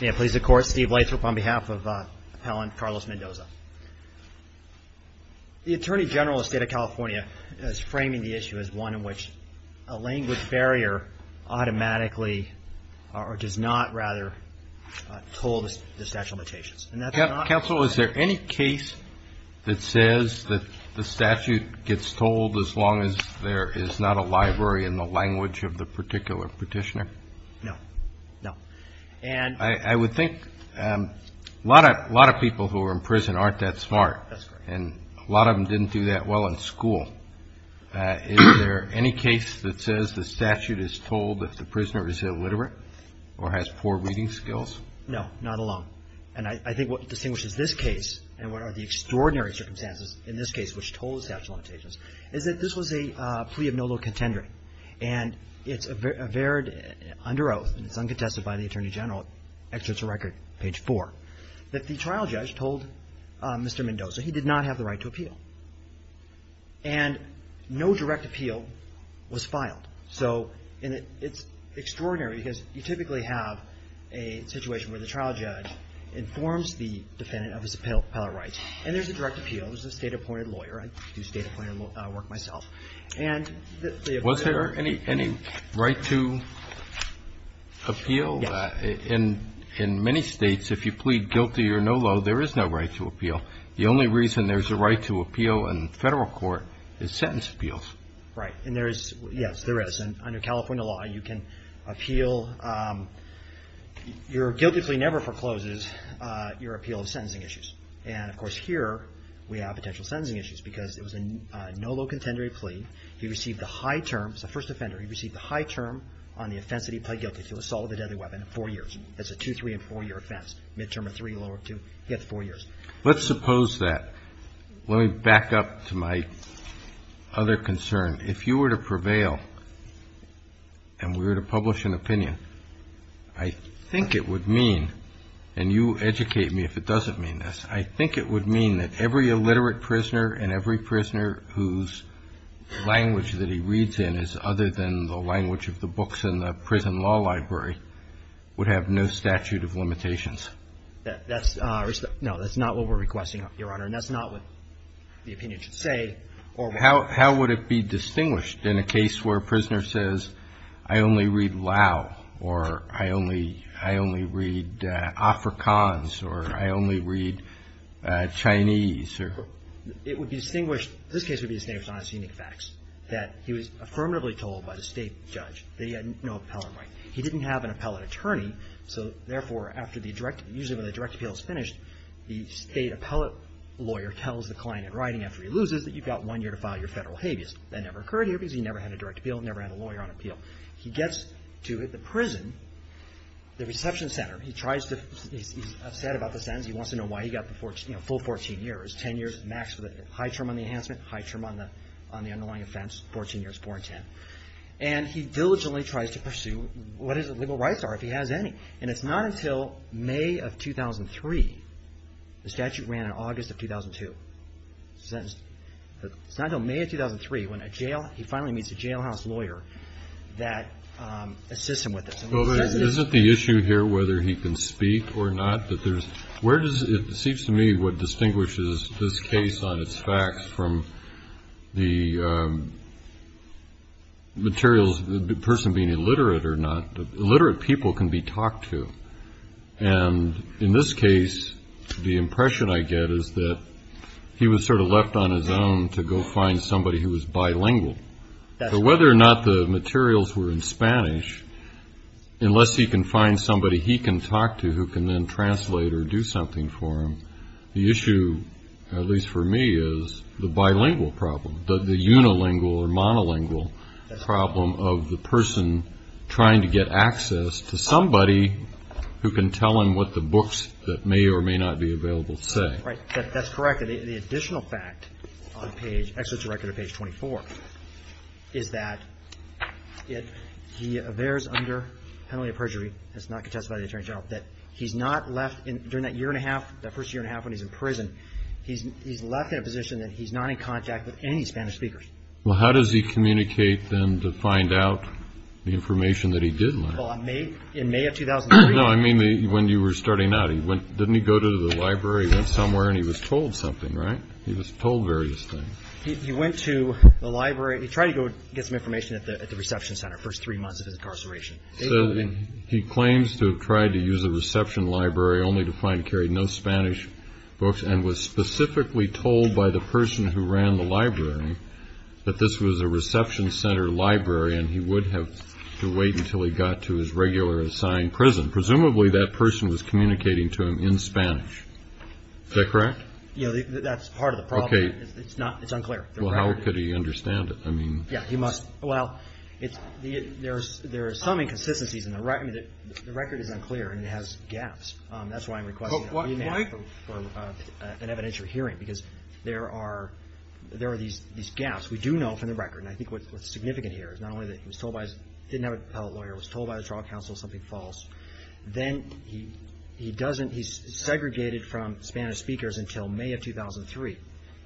May it please the Court, Steve Lathrop on behalf of Appellant Carlos Mendoza. The Attorney General of the State of California is framing the issue as one in which a language barrier automatically, or does not rather, toll the statute of limitations. Counsel, is there any case that says that the statute gets tolled as long as there is not a library in the language of the particular petitioner? No. No. I would think a lot of people who are in prison aren't that smart and a lot of them didn't do that well in school. Is there any case that says the statute is tolled if the prisoner is illiterate or has poor reading skills? No. Not alone. And I think what distinguishes this case and what are the extraordinary circumstances in this case which toll the statute of limitations is that this was a plea of no low contendering and it's averred under oath, and it's uncontested by the Attorney General, actually it's a record, page four, that the trial judge told Mr. Mendoza he did not have the right to appeal. And no direct appeal was filed. So it's extraordinary because you typically have a situation where the trial judge informs the defendant of his appellate rights and there's a direct appeal. It was a State-appointed lawyer. I do State-appointed work myself. Was there any right to appeal? Yes. In many States, if you plead guilty or no low, there is no right to appeal. The only reason there's a right to appeal in Federal court is sentence appeals. Right. And there is. Yes, there is. And under California law, you can appeal. Your guilty plea never forecloses your appeal of sentencing issues. And, of course, here we have potential Let's suppose that. Let me back up to my other concern. If you were to prevail and we were to publish an opinion, I think it would mean, and you educate me if it doesn't mean this, I think it would mean that every illiterate prisoner and every prisoner whose language that he reads in is other than the language of the books in the prison law library would have no statute of limitations. That's, no, that's not what we're requesting, Your Honor. And that's not what the opinion should say. How would it be distinguished in a case where a prisoner says, I only read Lao or I only read Afrikaans or I only read Chinese? It would be distinguished, this case would be distinguished on its unique facts, that he was affirmatively told by the state judge that he had no appellant right. He didn't have an appellate attorney. So, therefore, after the direct, usually when the direct appeal is finished, the state appellate lawyer tells the client in writing after he loses that you've got one year to file your Federal habeas. That never occurred here because he never had a direct appeal, never had a lawyer on appeal. He gets to the prison, the reception center. He tries to, he's upset about the sentence. He wants to know why he got the full 14 years, 10 years max for the high term on the enhancement, high term on the underlying offense, 14 years, 4 and 10. And he diligently tries to pursue what his legal rights are if he has any. And it's not until May of 2003, the statute ran in August of 2002, sentenced, it's not until May of 2003 when a jail, he finally meets a jailhouse lawyer that assists him with this. Well, but isn't the issue here whether he can speak or not, that there's, where does, it seems to me what distinguishes this case on its facts from the materials, the person being illiterate or not, the illiterate people can be talked to. And in this case, the impression I get is that he was sort of left on his own to go find somebody who was bilingual. Whether or not the materials were in Spanish, unless he can find somebody he can talk to who can then translate or do something for him, the issue, at least for me, is the bilingual problem, the unilingual or monolingual problem of the person trying to get access to somebody who can tell him what the books that may or may not be available say. Right. That's correct. And the additional fact on page, actually it's right there on page 24, is that it, he avers under penalty of perjury, that's not contested by the attorney general, that he's not left in, during that year and a half, that first year and a half when he's in prison, he's left in a position that he's not in contact with any Spanish speakers. Well, how does he communicate then to find out the information that he did learn? Well, in May of 2003. No, I mean, when you were starting out, he went, didn't he go to the library, went somewhere and he was told something, right? He was told various things. He went to the library, he tried to go get some information at the reception center, first three months of his incarceration. He claims to have tried to use the reception library only to find it carried no Spanish books and was specifically told by the person who ran the library that this was a reception center library and he would have to wait until he got to his regular assigned prison. Presumably that person was communicating to him in Spanish. Is that correct? Yeah, that's part of the problem. It's not, it's unclear. Well, how could he understand it? I mean. Yeah, he must. Well, it's, there's, there are some inconsistencies in the record, the record is unclear and it has gaps. That's why I'm requesting an evidential hearing because there are, there are these gaps. We do know from the record, and I think what's significant here is not only that he was told by his, didn't have a lawyer, was told by the trial counsel something false. Then he, he doesn't, he's segregated from Spanish speakers until May of 2003.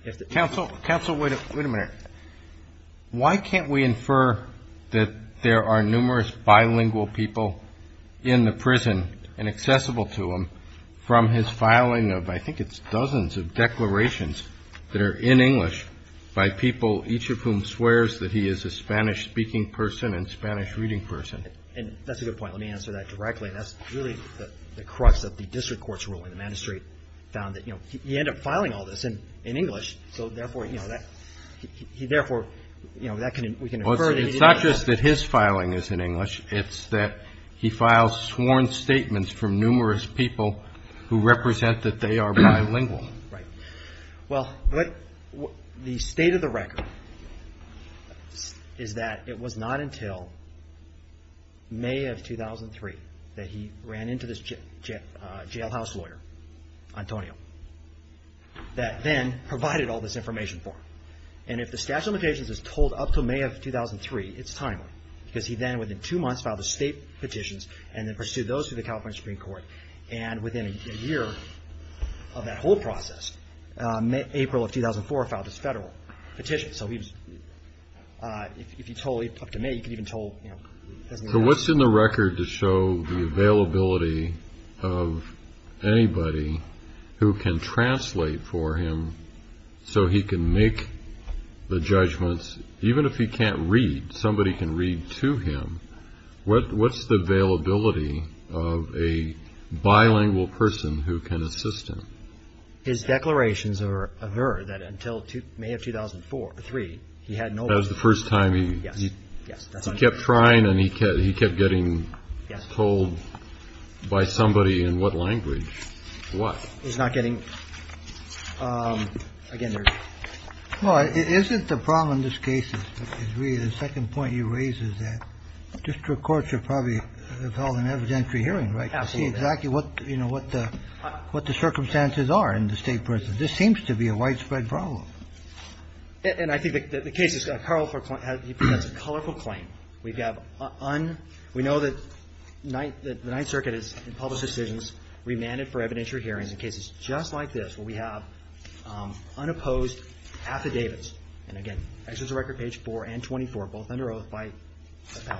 If the. Counsel, counsel, wait a minute. Why can't we infer that there are numerous bilingual people in the prison and accessible to them from his filing of, I think it's dozens of declarations that are in English by people, each of whom swears that he is a Spanish speaking person and Spanish reading person. And that's a good point. Let me answer that directly. That's really the crux of the district court's ruling. The magistrate found that, you know, he ended up filing all this in, in English. So therefore, you know, that he, therefore, you know, that can, we can infer. It's not just that his filing is in English. It's that he files sworn statements from numerous people who represent that they are bilingual. Right. Well, but the state of the record is that it was not until May of 2003 that he ran into this jail, jail house lawyer, Antonio, that then provided all this information for him. And if the statute of limitations is told up to May of 2003, it's timely because he then within two months filed the state petitions and then pursued those through the April of 2004, filed his federal petition. So he was, if you told up to May, you could even told, you know, So what's in the record to show the availability of anybody who can translate for him so he can make the judgments, even if he can't read, somebody can read to him. What, what's the availability of a bilingual person who can assist him? His declarations are that until May of 2004 or three, he had no, that was the first time he kept trying and he kept, he kept getting told by somebody in what language what he's not getting again. Well, isn't the problem in this case is really the second point you raise is that district courts are probably held in evidentiary hearing. Absolutely. Exactly. What, you know, what the, what the circumstances are in the state prison. This seems to be a widespread problem. And I think that the case is a colorful claim. We've got on, we know that the Ninth Circuit is in public decisions, remanded for evidentiary hearings in cases just like this, where we have unopposed affidavits, and again, this is a record page four and 24, both under oath by the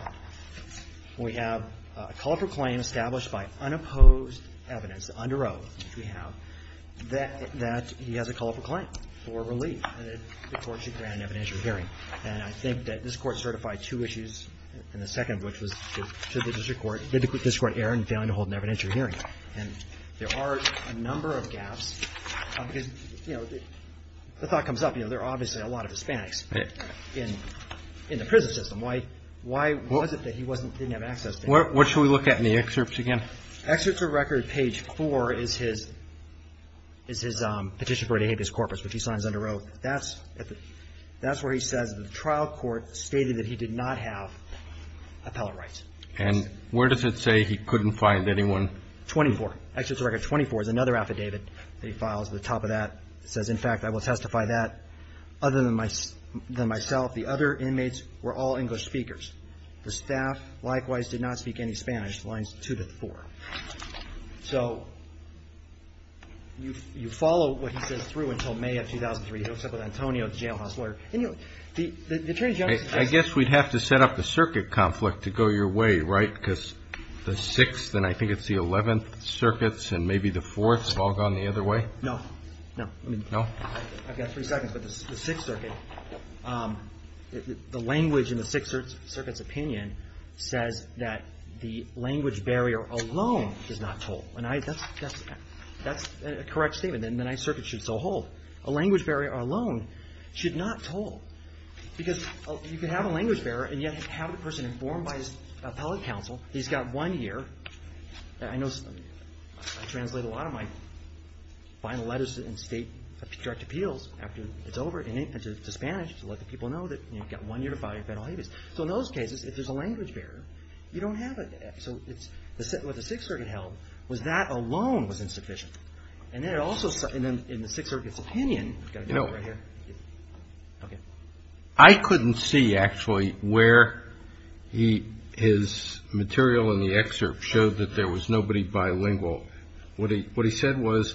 unopposed evidence, under oath, which we have, that, that he has a colorful claim for relief, and the court should grant an evidentiary hearing. And I think that this court certified two issues in the second, which was to the district court, did the district court err in failing to hold an evidentiary hearing. And there are a number of gaps, because, you know, the thought comes up, you know, there are obviously a lot of Hispanics in, in the prison system. Why, why was it that he wasn't, didn't have access to them? What, what should we look at in the excerpts again? Excerpts of record page four is his, is his petition for a de habeas corpus, which he signs under oath. That's, that's where he says the trial court stated that he did not have appellate rights. And where does it say he couldn't find anyone? 24. Excerpts of record 24 is another affidavit that he files at the top of that, says, in fact, I will testify that other than my, than myself, the other inmates were all English speakers. The staff likewise did not speak any Spanish, lines two to four. So you, you follow what he says through until May of 2003. He hooks up with Antonio, the jailhouse lawyer. And you know, the, the attorney general, I guess we'd have to set up the circuit conflict to go your way, right? Because the sixth, and I think it's the 11th circuits and maybe the fourths have all gone the other way. No, no, no. I've got three seconds, but the sixth circuit, the language in the sixth circuit's opinion says that the language barrier alone is not told. And I, that's, that's, that's a correct statement. Then the ninth circuit should so hold. A language barrier alone should not toll because you could have a language barrier and yet have the person informed by his appellate counsel. He's got one year. I know I translate a lot of my final letters in state direct appeals after it's over in Spanish to let the people know that you've got one year to file a federal habeas. So in those cases, if there's a language barrier, you don't have it. So it's the, what the sixth circuit held was that alone was insufficient. And then it also, and then in the sixth circuit's opinion, I couldn't see actually where he, his material in the excerpt showed that there was nobody bilingual. What he, what he said was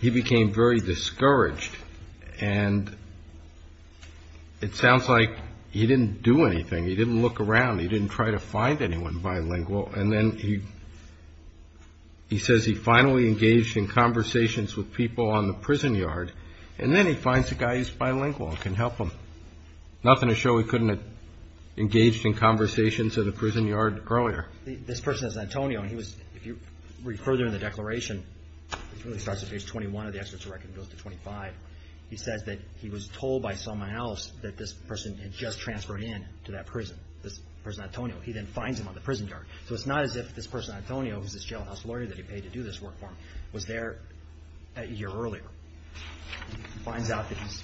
he became very discouraged and it sounds like he didn't do anything. He didn't look around. He didn't try to find anyone bilingual. And then he, he says he finally engaged in conversations with people on the prison yard and then he finds a guy who's bilingual and can help him. Nothing to show he couldn't have engaged in conversations at a prison yard earlier. This person is Antonio and he was, if you read further in the declaration, it really starts at page 21 of the excerpt to record goes to 25. He says that he was told by someone else that this person had just transferred in to that prison, this person, Antonio, he then finds him on the prison yard. So it's not as if this person, Antonio, who's this jailhouse lawyer that he paid to do this work for him was there a year earlier, finds out that he's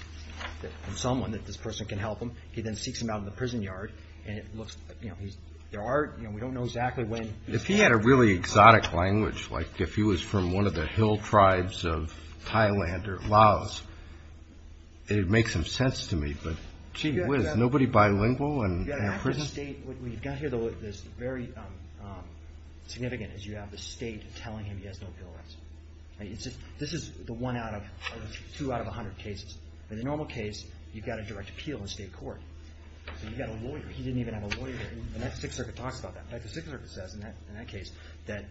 someone that this person can help him. He then seeks him out of the prison yard and it looks, you know, he's, there are, you know, we don't know exactly when. If he had a really exotic language, like if he was from one of the hill tribes of Thailand or Laos, it would make some sense to me, but gee whiz, nobody bilingual in a prison? Yeah, in a prison state, what you've got here, though, that's very significant is you have the state telling him he has no bill rights. I mean, it's just, this is the one out of two out of a hundred cases. In the normal case, you've got a direct appeal in state court. So you've got a lawyer. He didn't even have a lawyer. And the next Sixth Circuit talks about that. In fact, the Sixth Circuit says in that case, that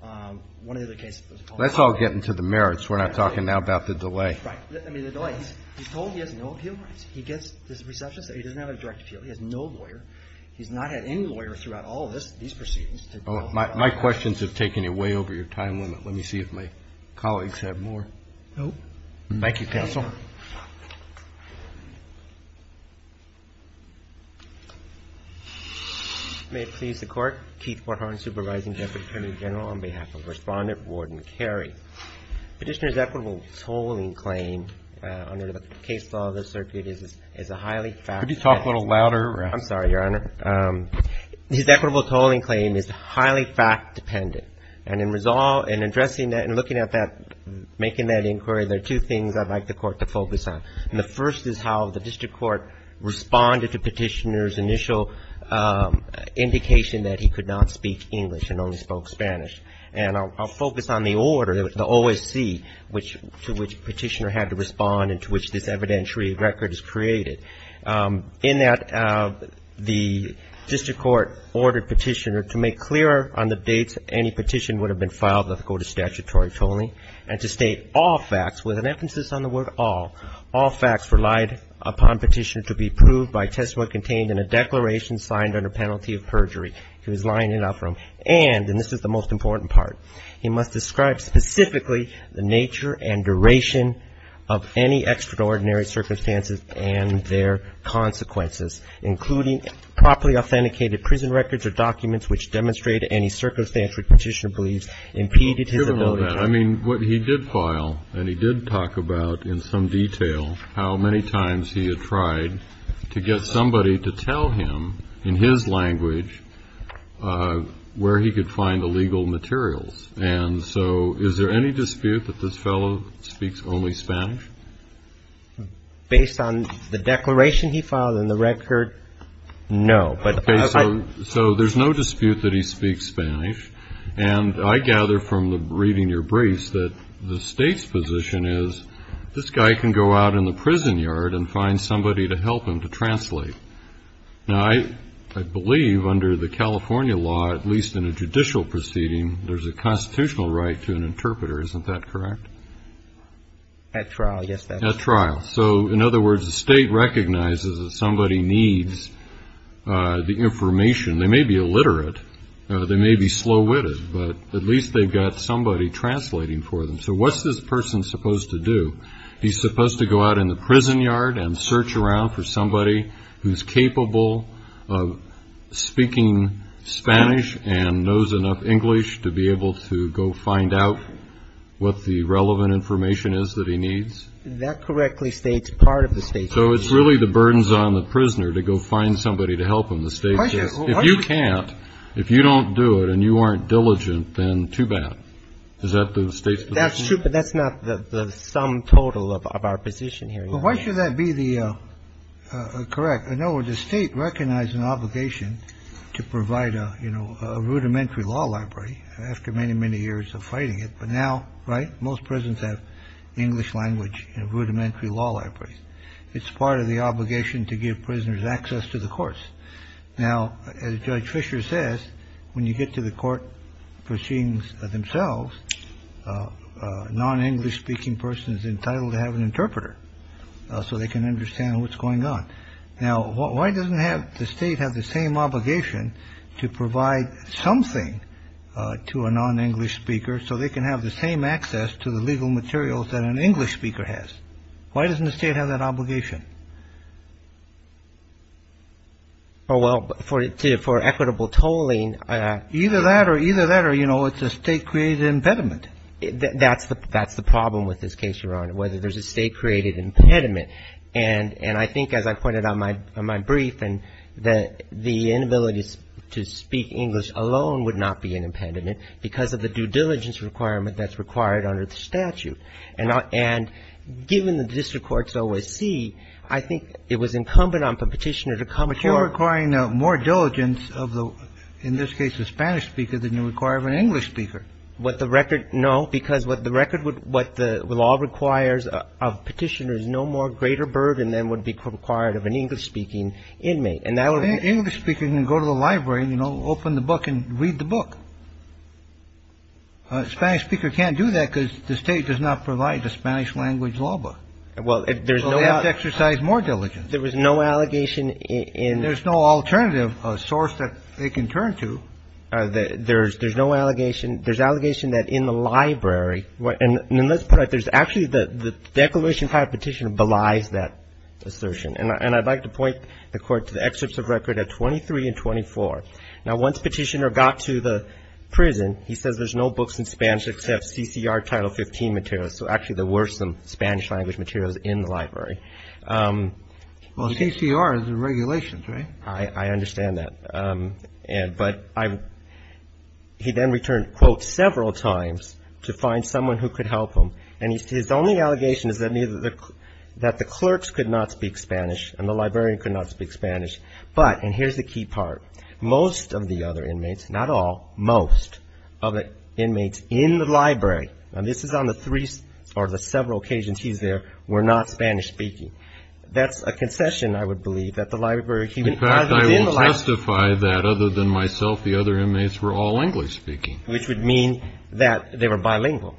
one of the other cases. Let's all get into the merits. We're not talking now about the delay. Right. I mean, the delay, he's told he has no appeal rights. He gets this reception, so he doesn't have a direct appeal. He has no lawyer. He's not had any lawyer throughout all of this, these proceedings. Oh, my questions have taken you way over your time limit. Let me see if my colleagues have more. Nope. Thank you, counsel. May it please the Court. Keith Warthorn, Supervising Deputy Attorney General on behalf of Respondent Warden Carey. Petitioner's equitable tolling claim under the case law of the circuit is a highly fact. Could you talk a little louder? I'm sorry, Your Honor. His equitable tolling claim is highly fact dependent. And in addressing that and looking at that, making that inquiry, there are two things I'd like the Court to focus on. And the first is how the district court responded to Petitioner's initial indication that he could not speak English and only spoke Spanish. And I'll focus on the order, the OSC, to which Petitioner had to respond and to which this evidentiary record is created. In that, the district court ordered Petitioner to make clear on the dates any petition would have been filed under the Code of Statutory Tolling and to state all facts with an emphasis on the word all. All facts relied upon Petitioner to be proved by testimony contained in a declaration signed under penalty of perjury. He was lying in that room. And, and this is the most important part, he must describe specifically the nature and duration of any extraordinary circumstances and their consequences, including properly authenticated prison records or documents which demonstrate any circumstance which Petitioner believes impeded his ability to speak. What he did file and he did talk about in some detail how many times he had tried to get somebody to tell him in his language where he could find illegal materials. And so is there any dispute that this fellow speaks only Spanish? Based on the declaration he filed in the record? No. So there's no dispute that he speaks Spanish. And I gather from reading your briefs that the state's position is this guy can go out in the prison yard and find somebody to help him to translate. Now, I believe under the California law, at least in a judicial proceeding, there's a constitutional right to an interpreter. Isn't that correct? At trial. Yes, at trial. So in other words, the state recognizes that somebody needs the information. They may be illiterate. They may be slow-witted, but at least they've got somebody translating for them. So what's this person supposed to do? He's supposed to go out in the prison yard and search around for somebody who's capable of speaking Spanish and knows enough English to be able to go find out what the relevant information is that he needs. That correctly states part of the state. So it's really the burdens on the prisoner to go find somebody to help him. The state says, if you can't, if you don't do it and you aren't diligent, then too bad. Is that the state? That's true. But that's not the sum total of our position here. Why should that be the correct? I know the state recognized an obligation to provide a rudimentary law library after many, many years of fighting it. But now. Right. Most prisons have English language rudimentary law library. It's part of the obligation to give prisoners access to the courts. Now, as Judge Fisher says, when you get to the court proceedings themselves, non-English speaking person is entitled to have an interpreter so they can understand what's going on. Now, why doesn't have the state have the same obligation to provide something to a non-English speaker so they can have the same access to the legal materials that an English speaker has? Why doesn't the state have that obligation? Oh, well, for it to for equitable tolling either that or either that or, you know, it's a state created impediment. That's the that's the problem with this case, Your Honor, whether there's a state created impediment. And and I think, as I pointed out, my my brief and that the inability to speak English alone would not be an impediment because of the due diligence requirement that's required under the statute. And and given the district courts always see, I think it was incumbent on the petitioner to come to requiring more diligence of the, in this case, a Spanish speaker than you require of an English speaker. What the record? No, because what the record would what the law requires of petitioners no more greater burden than would be required of an English speaking inmate. And now English speaking and go to the library, you know, open the book and read the book. Spanish speaker can't do that because the state does not provide the Spanish language law book. Well, if there's no exercise, more diligence, there was no allegation in there's no alternative source that they can turn to. There's there's no allegation. There's allegation that in the library. And let's put it. There's actually the declaration type petitioner belies that assertion. And I'd like to point the court to the excerpts of record at twenty three and twenty four. Now, once petitioner got to the prison, he says there's no books in Spanish except CCR Title 15 material. So actually, there were some Spanish language materials in the library. Well, CCR is the regulations, right? I understand that. And but I he then returned, quote, several times to find someone who could help him. And his only allegation is that neither that the clerks could not speak Spanish and the librarian could not speak Spanish. But and here's the key part. Most of the other inmates, not all, most of the inmates in the library. And this is on the three or the several occasions he's there were not Spanish speaking. That's a concession, I would believe, that the library. I will testify that other than myself, the other inmates were all English speaking, which would mean that they were bilingual.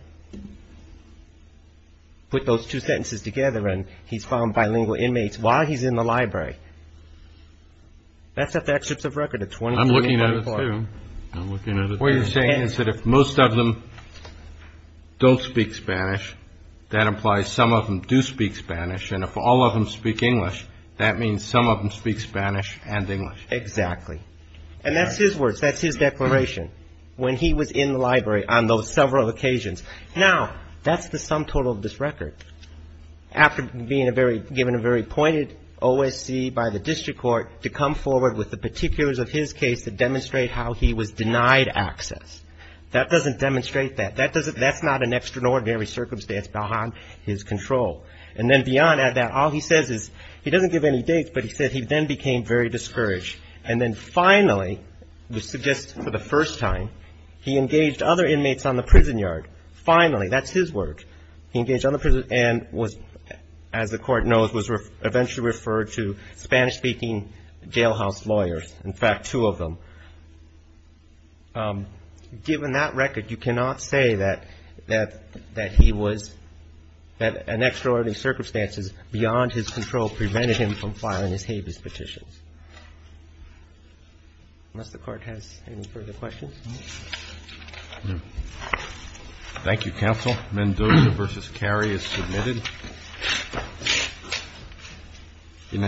Put those two sentences together and he's found bilingual inmates while he's in the library. That's a fact sets of record. It's when I'm looking at it, I'm looking at what you're saying is that if most of them don't speak Spanish, that implies some of them do speak Spanish. And if all of them speak English, that means some of them speak Spanish and English. Exactly. And that's his words. That's his declaration when he was in the library on those several occasions. Now, that's the sum total of this record after being a very given a very pointed OSC by the district court to come forward with the particulars of his case to demonstrate how he was denied access. That doesn't demonstrate that that doesn't that's not an extraordinary circumstance behind his control. And then beyond that, all he says is he doesn't give any dates, but he said he then became very discouraged. And then finally, we suggest for the first time, he engaged other inmates on the prison yard. Finally, that's his word. He engaged other prisoners and was, as the court knows, was eventually referred to Spanish speaking jailhouse lawyers. In fact, two of them. Given that record, you cannot say that that that he was that an extraordinary circumstances beyond his control prevented him from filing his habeas petitions. Unless the court has any further questions. Thank you, counsel. Mendoza versus Kerry is submitted.